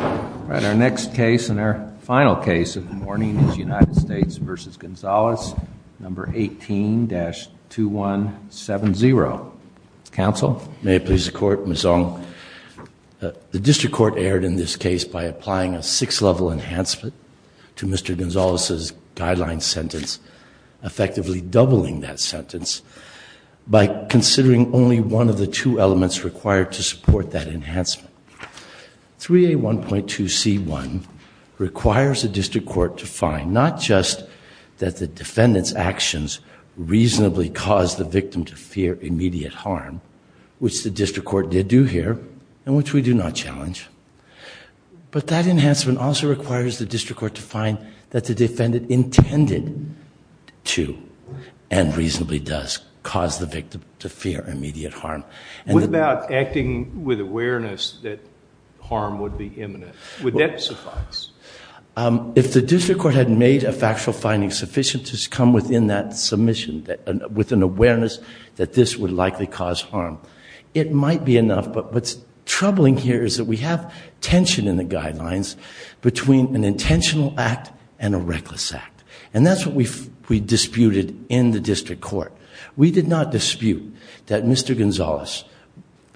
All right, our next case and our final case of the morning is United States v. Gonzales, number 18-2170. Counsel? May it please the Court, Ms. Ong. The District Court erred in this case by applying a six-level enhancement to Mr. Gonzales's guideline sentence, effectively doubling that sentence by considering only one of the two 3A1.2C1 requires the District Court to find not just that the defendant's actions reasonably caused the victim to fear immediate harm, which the District Court did do here and which we do not challenge, but that enhancement also requires the District Court to find that the defendant intended to and reasonably does cause the victim to fear immediate harm. What about acting with awareness that harm would be imminent? Would that suffice? If the District Court had made a factual finding sufficient to come within that submission with an awareness that this would likely cause harm, it might be enough. But what's troubling here is that we have tension in the guidelines between an intentional act and a reckless act, and that's what we disputed in the District Court. We did not dispute that Mr. Gonzales,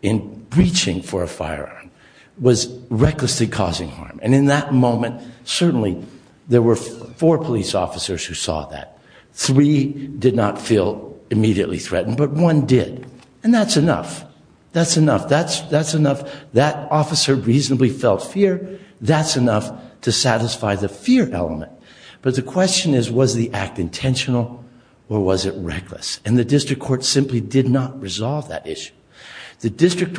in breaching for a firearm, was recklessly causing harm. And in that moment, certainly there were four police officers who saw that. Three did not feel immediately threatened, but one did. And that's enough. That's enough. That's enough. That officer reasonably felt fear. That's enough to satisfy the fear element. But the question is, was the act intentional or was it reckless? And the District Court simply did not resolve that issue. The District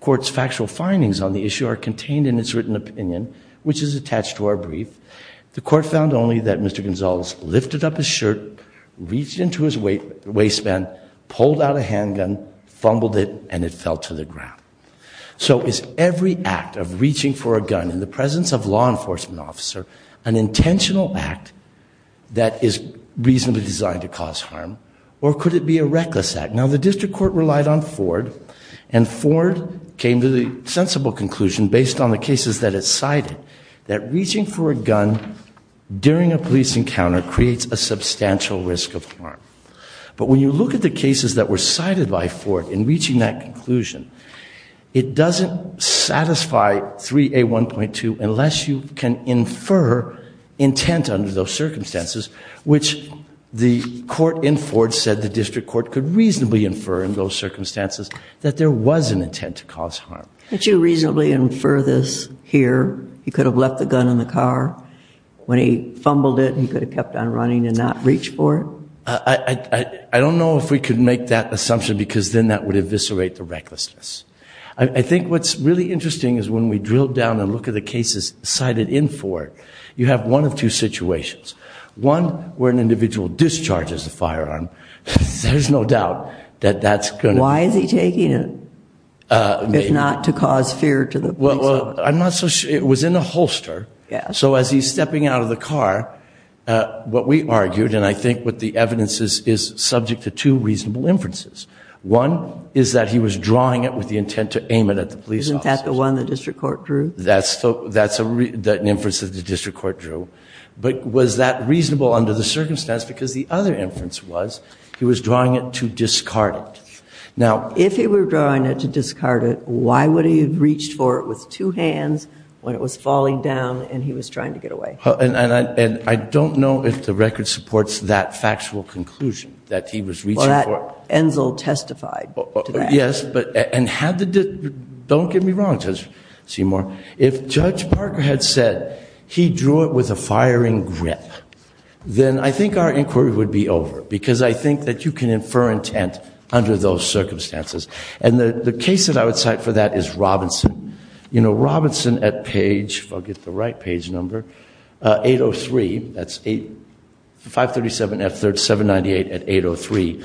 Court's factual findings on the issue are contained in its written opinion, which is attached to our brief. The Court found only that Mr. Gonzales lifted up his shirt, reached into his waistband, pulled out a handgun, fumbled it, and it fell to the ground. So is every act of reaching for a gun in the presence of a law enforcement officer an intentional act that is reasonably designed to cause harm, or could it be a reckless act? Now the District Court relied on Ford, and Ford came to the sensible conclusion, based on the cases that it cited, that reaching for a gun during a police encounter creates a substantial risk of harm. But when you look at the cases that were cited by Ford in reaching that conclusion, it doesn't satisfy 3A1.2 unless you can infer intent under those circumstances, which the court in Ford said the District Court could reasonably infer in those circumstances that there was an intent to cause harm. Could you reasonably infer this here? He could have left the gun in the car. When he fumbled it, he could have kept on running and not reached for it? I don't know if we could make that assumption, because then that would eviscerate the recklessness. I think what's really interesting is when we drill down and look at the cases cited in Ford, you have one of two situations. One where an individual discharges a firearm, there's no doubt that that's going to... Why is he taking it, if not to cause fear to the police? I'm not so sure. It was in a holster, so as he's stepping out of the car, what we argued, and I think what the evidence is, is subject to two reasonable inferences. One is that he was drawing it with the intent to aim it at the police officers. Isn't that the one the District Court drew? That's an inference that the District Court drew. But was that reasonable under the circumstance? Because the other inference was he was drawing it to discard it. Now... If he were drawing it to discard it, why would he have reached for it with two hands when it was falling down and he was trying to get away? And I don't know if the record supports that factual conclusion that he was reaching for. Well, that Enzel testified to that. Yes, but... And have the... Don't get me wrong, Judge Seymour. If Judge Parker had said he drew it with a firing grip, then I think our inquiry would be over, because I think that you can infer intent under those circumstances. And the case that I would cite for that is Robinson. You know, Robinson, at page, if I'll get the right page number, 803, that's 537F798 at 803,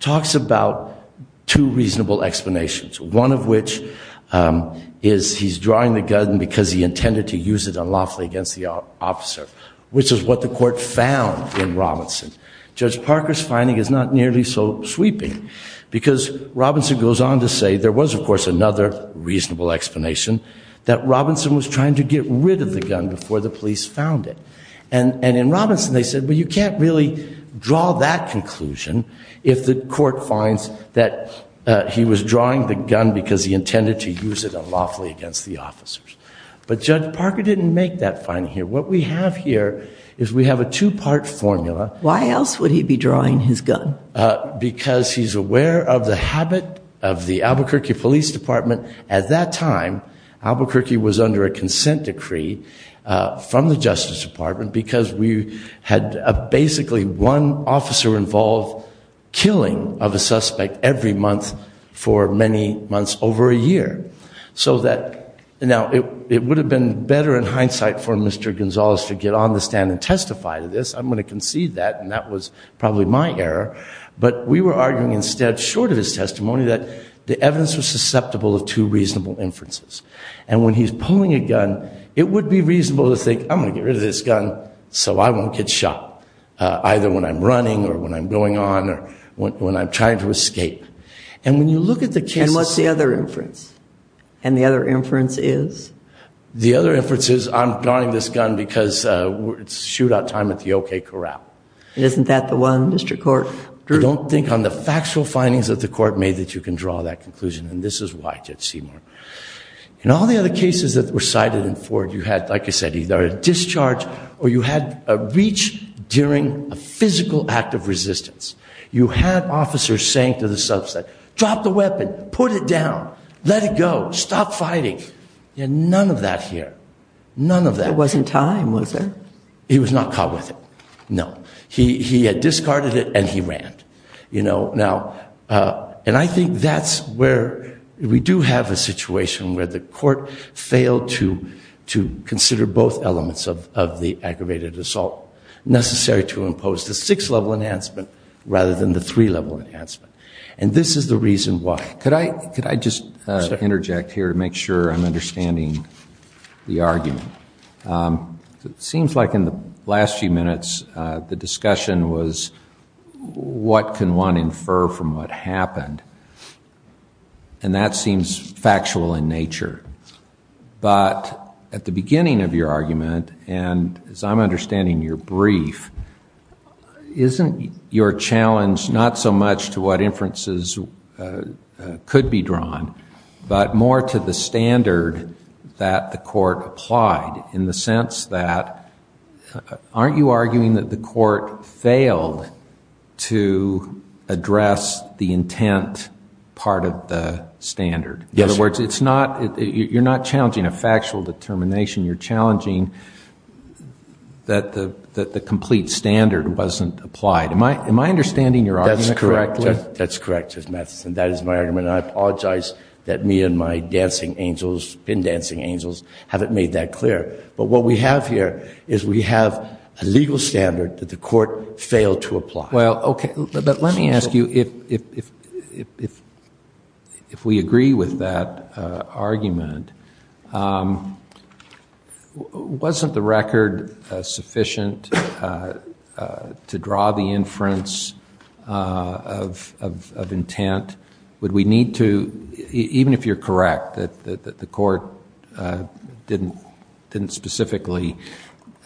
talks about two reasonable explanations. One of which is he's drawing the gun because he intended to use it unlawfully against the officer, which is what the Court found in Robinson. Judge Parker's finding is not nearly so sweeping, because Robinson goes on to say there was, of course, another reasonable explanation, that Robinson was trying to get rid of the gun before the police found it. And in Robinson, they said, well, you can't really draw that conclusion if the Court finds that he was drawing the gun because he intended to use it unlawfully against the officers. But Judge Parker didn't make that finding here. What we have here is we have a two-part formula. Why else would he be drawing his gun? Because he's aware of the habit of the Albuquerque Police Department. At that time, Albuquerque was under a consent decree from the Justice Department, because we had basically one officer-involved killing of a suspect every month for many months over a year. So that, now, it would have been better in hindsight for Mr. Gonzalez to get on the stand and testify to this. I'm going to concede that, and that was probably my error. But we were arguing instead, short of his testimony, that the evidence was susceptible of two reasonable inferences. And when he's pulling a gun, it would be reasonable to think, I'm going to get rid of this gun so I won't get shot, either when I'm running or when I'm going on or when I'm trying to escape. And when you look at the case itself- And what's the other inference? And the other inference is? The other inference is, I'm guarding this gun because it's shootout time at the OK Corral. And isn't that the one, Mr. Court? Don't think on the factual findings that the court made that you can draw that conclusion. And this is why, Judge Seymour. In all the other cases that were cited in Ford, you had, like I said, either a discharge or you had a reach during a physical act of resistance. You had officers saying to the suspect, drop the weapon, put it down, let it go, stop fighting. You had none of that here. None of that. There wasn't time, was there? He was not caught with it, no. He had discarded it and he ran. And I think that's where we do have a situation where the court failed to consider both elements of the aggravated assault necessary to impose the six-level enhancement rather than the three-level enhancement. And this is the reason why. Could I just interject here to make sure I'm understanding the argument? Seems like in the last few minutes, the discussion was, what can one infer from what happened? And that seems factual in nature. But at the beginning of your argument, and as I'm understanding your brief, isn't your challenge not so much to what inferences could be drawn, but more to the standard that the court applied in the sense that, aren't you arguing that the court failed to address the intent part of the standard? Yes. In other words, you're not challenging a factual determination. You're challenging that the complete standard wasn't applied. Am I understanding your argument correctly? That's correct, Justice Matheson. That is my argument. And I apologize that me and my dancing angels, pin dancing angels, haven't made that clear. But what we have here is we have a legal standard that the court failed to apply. Well, okay. But let me ask you, if we agree with that argument, wasn't the record sufficient to draw the inference of intent? Would we need to, even if you're correct that the court didn't specifically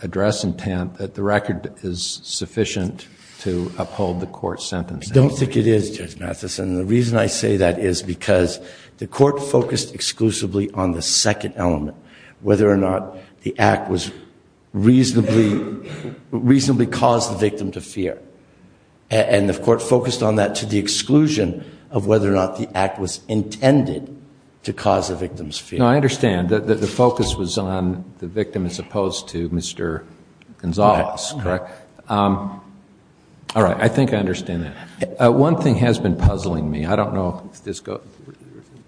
address intent, that the record is sufficient to uphold the court's sentence? Don't think it is, Judge Matheson. The reason I say that is because the court focused exclusively on the second element, whether or not the act reasonably caused the victim to fear. And the court focused on that to the exclusion of whether or not the act was intended to cause the victim's fear. No, I understand. The focus was on the victim as opposed to Mr. Gonzales, correct? Correct. All right. I think I understand that. One thing has been puzzling me. I don't know if this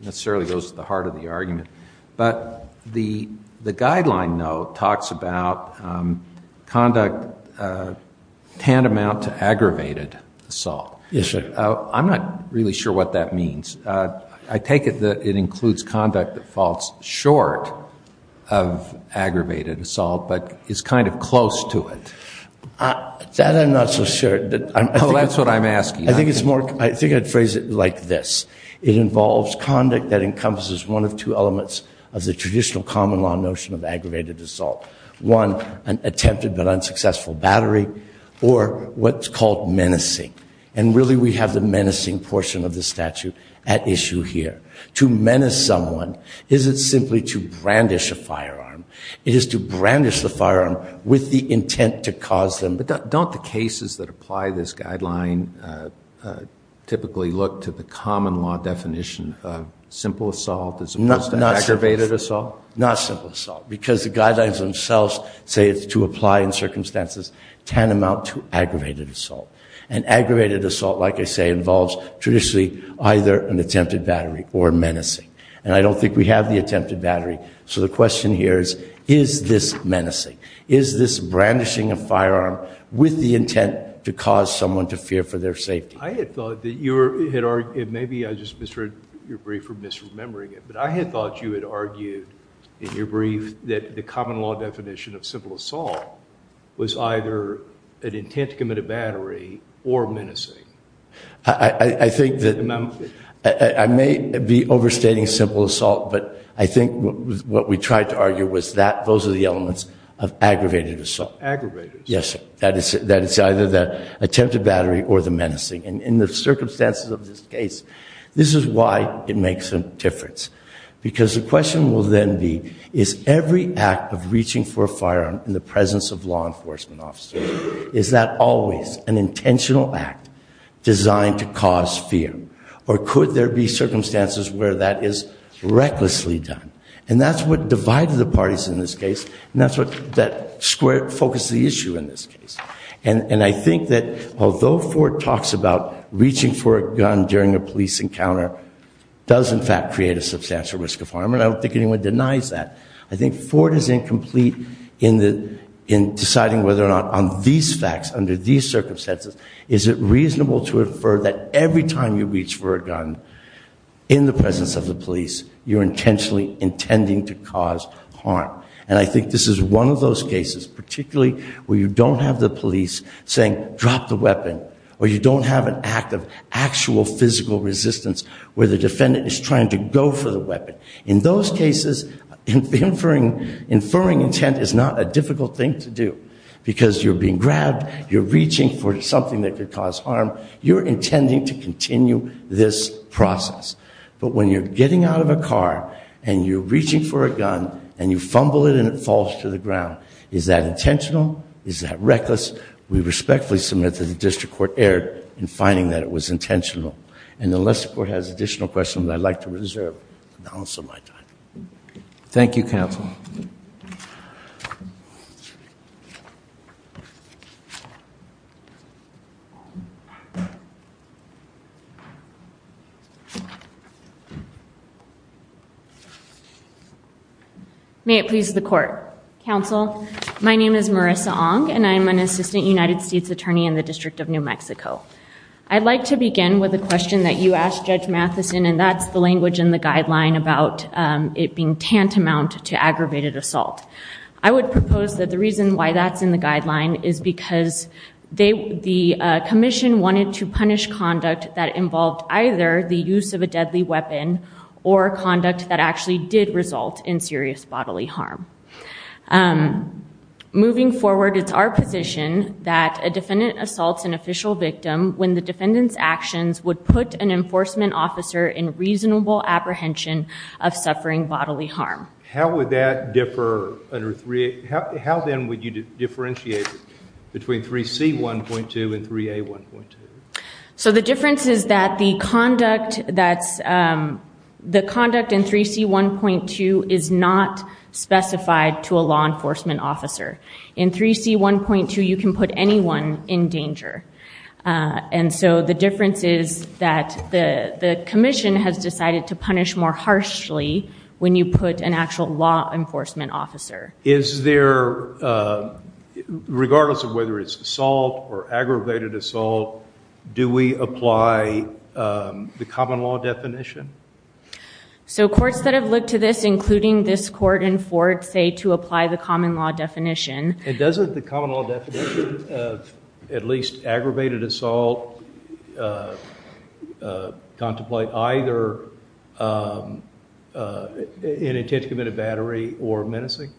necessarily goes to the heart of the argument, but the guideline note talks about conduct tantamount to aggravated assault. I'm not really sure what that means. I take it that it includes conduct that falls short of aggravated assault, but is kind of close to it. That I'm not so sure. Oh, that's what I'm asking. I think I'd phrase it like this. It involves conduct that encompasses one of two elements of the traditional common law notion of aggravated assault. One, an attempted but unsuccessful battery, or what's called menacing. And really, we have the menacing portion of the statute at issue here. To menace someone isn't simply to brandish a firearm. It is to brandish the firearm with the intent to cause them. But don't the cases that apply this guideline typically look to the common law definition of simple assault as opposed to aggravated assault? Not simple assault, because the guidelines themselves say it's to apply in circumstances tantamount to aggravated assault. And aggravated assault, like I say, involves traditionally either an attempted battery or menacing. And I don't think we have the attempted battery. So the question here is, is this menacing? Is this brandishing a firearm with the intent to cause someone to fear for their safety? I had thought that you had argued, maybe I just misheard your brief for misremembering it, but I had thought you had argued in your brief that the common law definition of simple or menacing. I may be overstating simple assault, but I think what we tried to argue was that those are the elements of aggravated assault. Aggravated? Yes, sir. That it's either the attempted battery or the menacing. In the circumstances of this case, this is why it makes a difference. Because the question will then be, is every act of reaching for a firearm in the presence of law enforcement officers? Is that always an intentional act designed to cause fear? Or could there be circumstances where that is recklessly done? And that's what divided the parties in this case, and that's what focused the issue in this case. And I think that although Ford talks about reaching for a gun during a police encounter does in fact create a substantial risk of harm, and I don't think anyone denies that, I think Ford is incomplete in deciding whether or not on these facts, under these circumstances, is it reasonable to infer that every time you reach for a gun in the presence of the police, you're intentionally intending to cause harm. And I think this is one of those cases, particularly where you don't have the police saying, drop the weapon, or you don't have an act of actual physical resistance where the defendant is trying to go for the weapon. In those cases, inferring intent is not a difficult thing to do, because you're being grabbed, you're reaching for something that could cause harm, you're intending to continue this process. But when you're getting out of a car, and you're reaching for a gun, and you fumble it and it falls to the ground, is that intentional? Is that reckless? We respectfully submit that the district court erred in finding that it was intentional. And unless the court has additional questions, I'd like to reserve the balance of my time. Thank you, counsel. May it please the court. Counsel, my name is Marissa Ong, and I'm an assistant United States attorney in the District of New Mexico. I'd like to begin with a question that you asked Judge Matheson, and that's the language in the guideline about it being tantamount to aggravated assault. I would propose that the reason why that's in the guideline is because the commission wanted to punish conduct that involved either the use of a deadly weapon, or conduct that actually did result in serious bodily harm. Moving forward, it's our position that a defendant assaults an official victim when the defendant's actions would put an enforcement officer in reasonable apprehension of suffering bodily harm. How would that differ under 3A? How then would you differentiate between 3C1.2 and 3A1.2? So the difference is that the conduct in 3C1.2 is not specified to a law enforcement officer. In 3C1.2, you can put anyone in danger. And so the difference is that the commission has decided to punish more harshly when you put an actual law enforcement officer. Is there, regardless of whether it's assault or aggravated assault, do we apply the common law definition? So courts that have looked to this, including this court and Ford, say to apply the common law definition. And doesn't the common law definition of at least aggravated assault contemplate either an intent to commit a battery or menacing?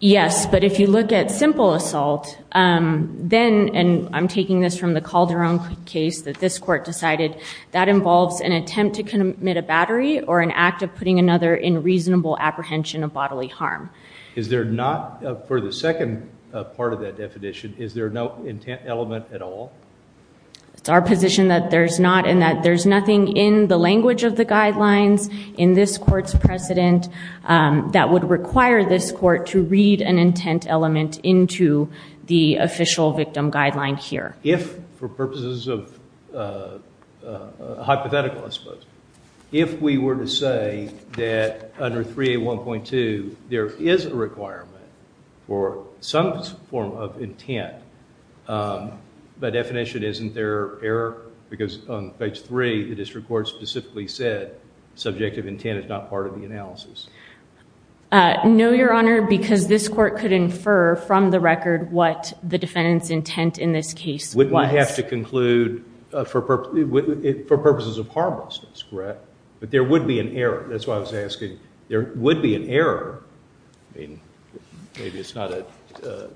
Yes. But if you look at simple assault, then, and I'm taking this from the Calderon case that this court decided, that involves an attempt to commit a battery or an act of putting another in reasonable apprehension of bodily harm. Is there not, for the second part of that definition, is there no intent element at all? It's our position that there's not, and that there's nothing in the language of the guidelines in this court's precedent that would require this court to read an intent element into the official victim guideline here. If, for purposes of hypothetical, I suppose, if we were to say that under 3A1.2, there is a requirement for some form of intent, by definition, isn't there error? Because on page 3, the district court specifically said, subjective intent is not part of the analysis. No, Your Honor, because this court could infer from the record what the defendant's intent in this case was. Wouldn't we have to conclude, for purposes of harmlessness, correct? But there would be an error. That's why I was asking, there would be an error. I mean, maybe it's not a,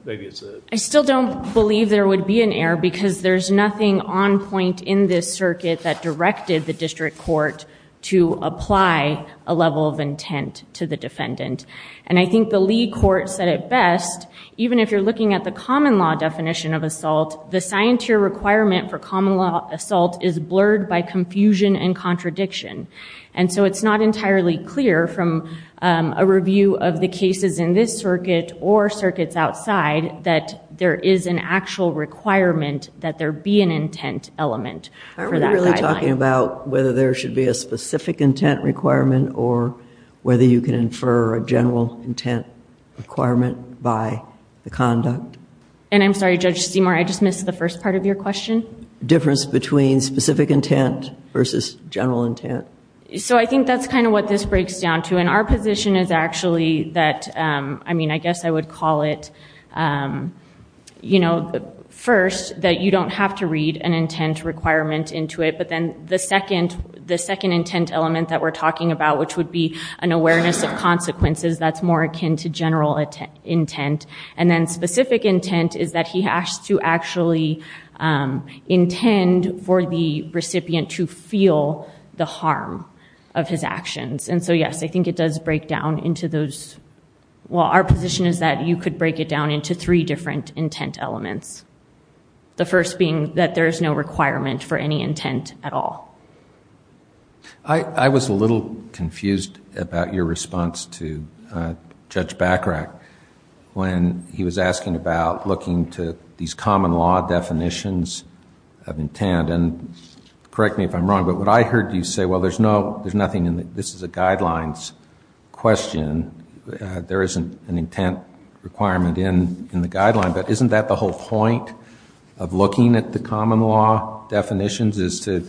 maybe it's a. I still don't believe there would be an error, because there's nothing on point in this circuit that directed the district court to apply a level of intent to the defendant. And I think the Lee court said it best, even if you're looking at the common law definition of assault, the scientier requirement for common law assault is blurred by confusion and contradiction. And so it's not entirely clear from a review of the cases in this circuit or circuits outside that there is an actual requirement that there be an intent element for that guideline. Are we really talking about whether there should be a specific intent requirement or whether you can infer a general intent requirement by the conduct? And I'm sorry, Judge Seymour, I just missed the first part of your question. Difference between specific intent versus general intent. So I think that's kind of what this breaks down to. And our position is actually that, I mean, I guess I would call it, you know, first, that you don't have to read an intent requirement into it. But then the second intent element that we're talking about, which would be an awareness of consequences, that's more akin to general intent. And then specific intent is that he has to actually intend for the recipient to feel the harm of his actions. And so, yes, I think it does break down into those, well, our position is that you could break it down into three different intent elements. The first being that there is no requirement for any intent at all. I was a little confused about your response to Judge Bachrach when he was asking about looking to these common law definitions of intent and correct me if I'm wrong, but what I heard you say, well, there's no, there's nothing in the, this is a guidelines question. There isn't an intent requirement in the guideline, but isn't that the whole point of looking at the common law definitions is to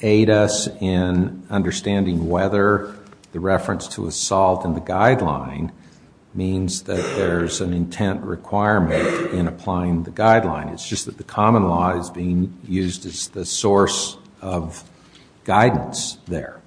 aid us in understanding whether the reference to assault in the guideline means that there's an intent requirement in applying the guideline. It's just that the common law is being used as the source of guidance there.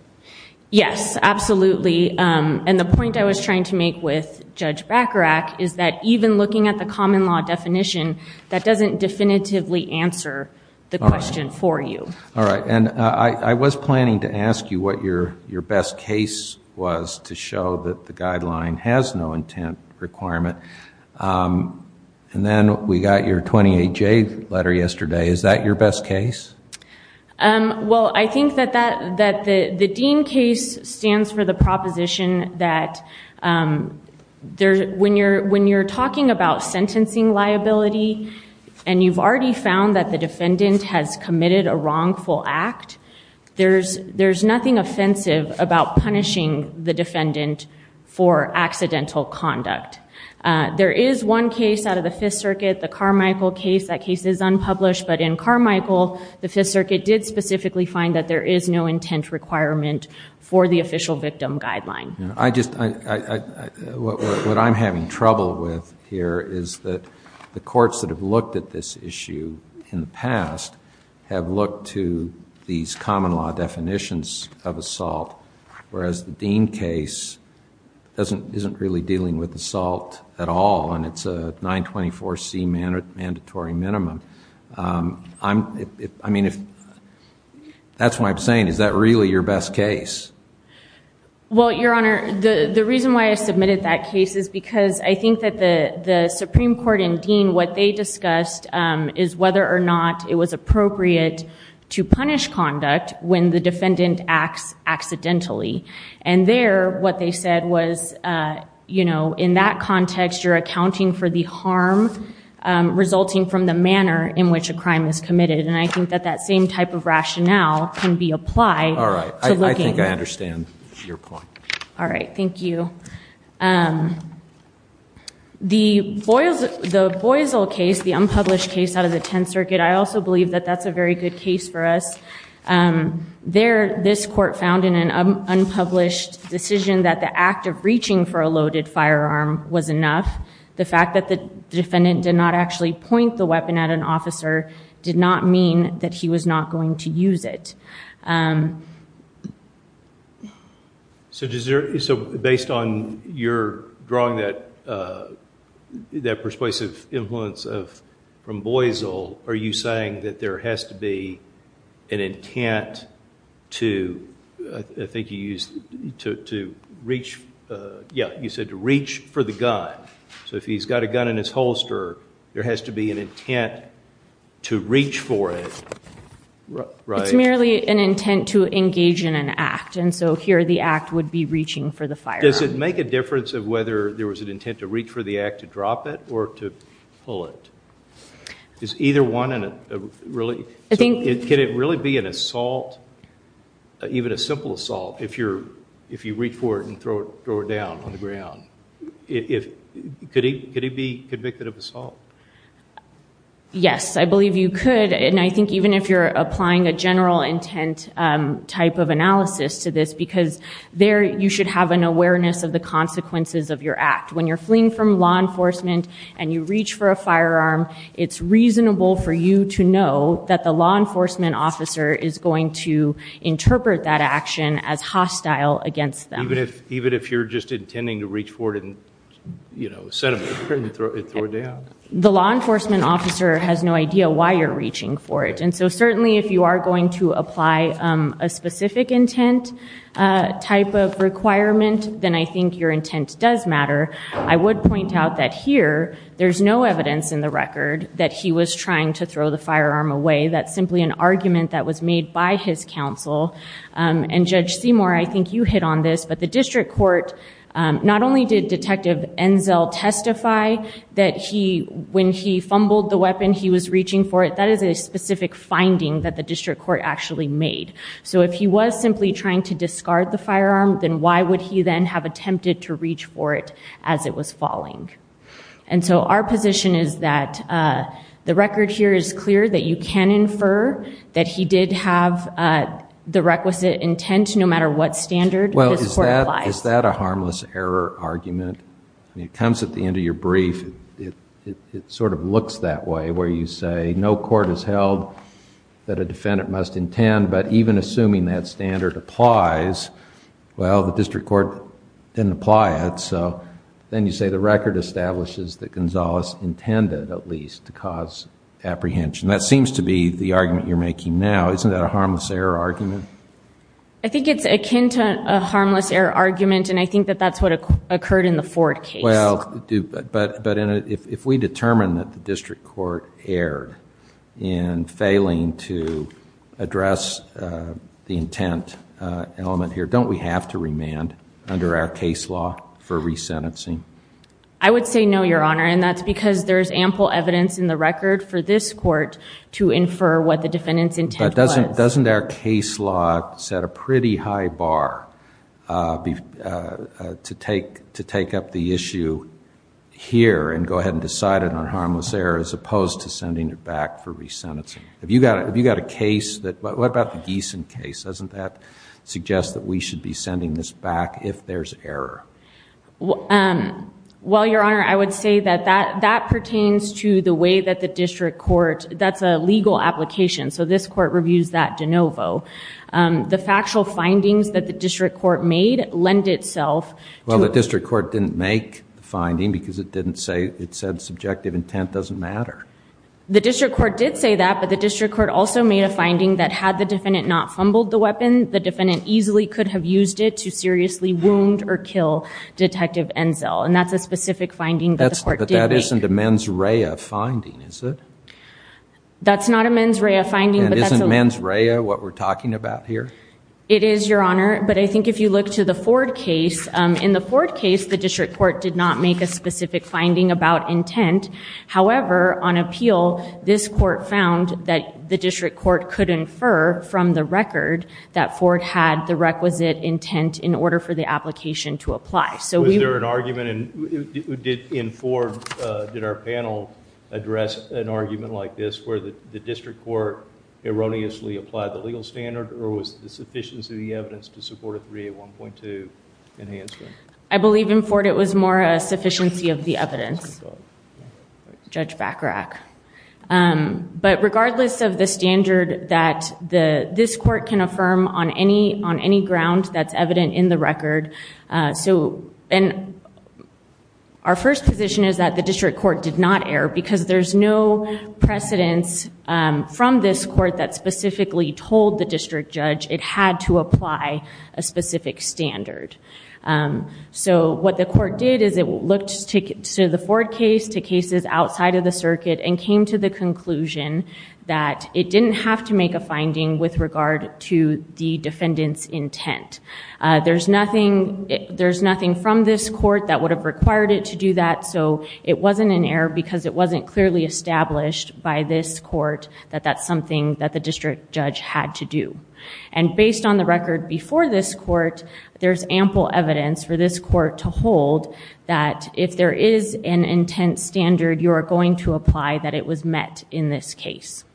Yes, absolutely. And the point I was trying to make with Judge Bachrach is that even looking at the common law definition, that doesn't definitively answer the question for you. All right. And I was planning to ask you what your best case was to show that the guideline has no intent requirement. And then we got your 28-J letter yesterday. Is that your best case? Well, I think that the Dean case stands for the proposition that when you're talking about sentencing liability and you've already found that the defendant has committed a wrongful act, there's nothing offensive about punishing the defendant for accidental conduct. There is one case out of the Fifth Circuit, the Carmichael case, that case is unpublished, but in Carmichael, the Fifth Circuit did specifically find that there is no intent requirement for the official victim guideline. I just, what I'm having trouble with here is that the courts that have looked at this issue in the past have looked to these common law definitions of assault, whereas the Dean case isn't really dealing with assault at all, and it's a 924C mandatory minimum. I mean, that's why I'm saying, is that really your best case? Well, Your Honor, the reason why I submitted that case is because I think that the Supreme Court and Dean, what they discussed is whether or not it was appropriate to punish conduct when the defendant acts accidentally. And there, what they said was, in that context, you're accounting for the harm resulting from the manner in which a crime is committed, and I think that that same type of rationale can be applied to looking at the case. I think I understand your point. All right, thank you. The Boisel case, the unpublished case out of the Tenth Circuit, I also believe that that's a very good case for us. This court found in an unpublished decision that the act of reaching for a loaded firearm was enough. The fact that the defendant did not actually point the weapon at an officer did not mean that he was not going to use it. So, based on your drawing that persuasive influence from Boisel, are you saying that there has to be an intent to, I think you used, to reach, yeah, you said to reach for the gun. So if he's got a gun in his holster, there has to be an intent to reach for it, right? It's merely an intent to engage in an act, and so here, the act would be reaching for the firearm. Does it make a difference of whether there was an intent to reach for the act to drop it or to pull it? Is either one really, can it really be an assault, even a simple assault, if you reach for it and throw it down on the ground? Could he be convicted of assault? Yes, I believe you could, and I think even if you're applying a general intent type of analysis to this, because there you should have an awareness of the consequences of your act. When you're fleeing from law enforcement and you reach for a firearm, it's reasonable for you to know that the law enforcement officer is going to interpret that action as hostile against them. Even if you're just intending to reach for it and, you know, set it up and throw it down? The law enforcement officer has no idea why you're reaching for it, and so certainly if you are going to apply a specific intent type of requirement, then I think your intent does matter. I would point out that here, there's no evidence in the record that he was trying to throw the firearm away. That's simply an argument that was made by his counsel, and Judge Seymour, I think you hit on this, but the district court, not only did Detective Enzel testify that when he fumbled the weapon, he was reaching for it, that is a specific finding that the district court actually made. So if he was simply trying to discard the firearm, then why would he then have attempted to reach for it as it was falling? And so our position is that the record here is clear that you can infer that he did have the requisite intent no matter what standard this court applies. Well, is that a harmless error argument? It comes at the end of your brief. It sort of looks that way, where you say no court has held that a defendant must intend, but even assuming that standard applies, well, the district court didn't apply it. So then you say the record establishes that Gonzalez intended, at least, to cause apprehension. That seems to be the argument you're making now. Isn't that a harmless error argument? I think it's akin to a harmless error argument, and I think that's what occurred in the Ford case. Well, but if we determine that the district court erred in failing to address the intent element here, don't we have to remand under our case law for resentencing? I would say no, Your Honor, and that's because there's ample evidence in the record for this court to infer what the defendant's intent was. Doesn't our case law set a pretty high bar to take up the issue here and go ahead and decide it on harmless error, as opposed to sending it back for resentencing? Have you got a case that, what about the Gieson case? Doesn't that suggest that we should be sending this back if there's error? Well, Your Honor, I would say that that pertains to the way that the district court, that's a legal application. So this court reviews that de novo. The factual findings that the district court made lend itself to- Well, the district court didn't make the finding because it didn't say, it said subjective intent doesn't matter. The district court did say that, but the district court also made a finding that had the defendant not fumbled the weapon, the defendant easily could have used it to seriously wound or kill Detective Enzel, and that's a specific finding that the court did make. But that isn't a mens rea finding, is it? That's not a mens rea finding, but that's a- And isn't mens rea what we're talking about here? It is, Your Honor, but I think if you look to the Ford case, in the Ford case, the district court did not make a specific finding about intent. However, on appeal, this court found that the district court could infer from the record that Ford had the requisite intent in order for the application to apply. Was there an argument in Ford, did our panel address an argument like this, where the district court erroneously applied the legal standard, or was the sufficiency of the evidence to support a 3A1.2 enhancement? I believe in Ford it was more a sufficiency of the evidence, Judge Bacharach. But regardless of the standard that this court can affirm on any ground that's evident in the record, and our first position is that the district court did not err, because there's no precedence from this court that specifically told the district judge it had to apply a specific standard. So what the court did is it looked to the Ford case, to cases outside of the circuit, and came to the conclusion that it didn't have to make a finding with regard to the defendant's intent. There's nothing from this court that would have required it to do that, so it wasn't an error because it wasn't clearly established by this court that that's something that the district judge had to do. And based on the record before this court, there's ample evidence for this court to hold that if there is an intent standard, you are going to apply that it was met in this case.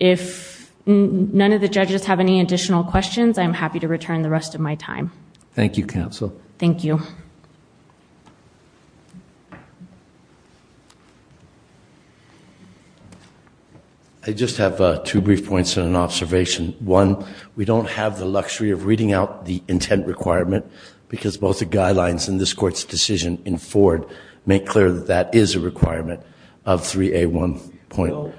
If none of the judges have any additional questions, I'm happy to return the rest of my time. Thank you, Counsel. Thank you. I just have two brief points and an observation. One, we don't have the luxury of reading out the intent requirement, because both the guidelines and this court's decision in Ford make clear that that is a requirement of 3A1. I don't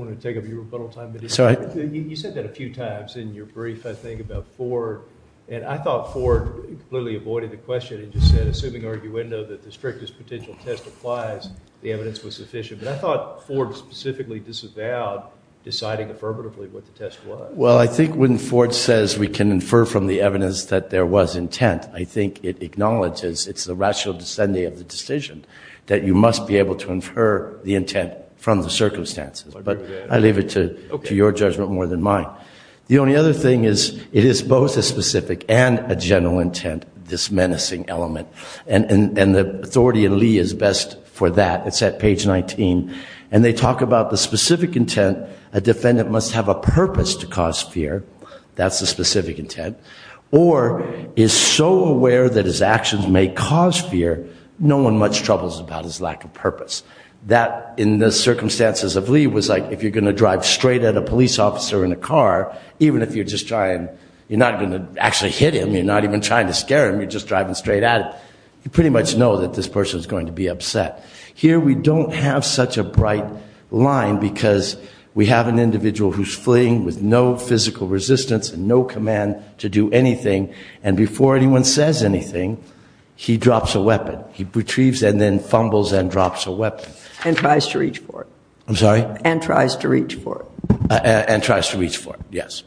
want to take up your rebuttal time, but you said that a few times in your brief, I think, about Ford. And I thought Ford clearly avoided the question and just said, assuming arguendo, that the strictest potential test applies, the evidence was sufficient. But I thought Ford specifically disavowed deciding affirmatively what the test was. Well, I think when Ford says we can infer from the evidence that there was intent, I think it acknowledges it's the rational descending of the decision that you must be able to infer the intent from the circumstances. But I leave it to your judgment more than mine. The only other thing is, it is both a specific and a general intent, this menacing element. And the authority in Lee is best for that. It's at page 19. And they talk about the specific intent, a defendant must have a purpose to cause fear. That's the specific intent. Or is so aware that his actions may cause fear, no one much troubles about his lack of purpose. That, in the circumstances of Lee, was like if you're going to drive straight at a police officer in a car, even if you're just trying, you're not going to actually hit him, you're not even trying to scare him, you're just driving straight at him, you pretty much know that this person's going to be upset. Here we don't have such a bright line because we have an individual who's fleeing with no physical resistance and no command to do anything. And before anyone says anything, he drops a weapon. He retrieves and then fumbles and drops a weapon. And tries to reach for it. I'm sorry? And tries to reach for it. And tries to reach for it, yes.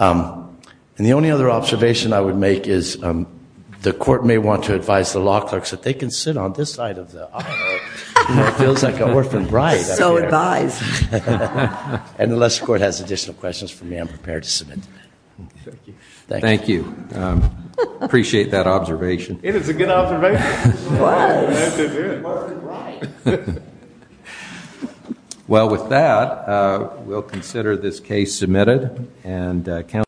And the only other observation I would make is, the court may want to advise the law clerks that they can sit on this side of the aisle, you know, it feels like an orphaned bride up here. So advised. And unless the court has additional questions for me, I'm prepared to submit them. Thank you. Thank you. Appreciate that observation. It is a good observation. It was. It was. Well, with that, we'll consider this case submitted. And counsel.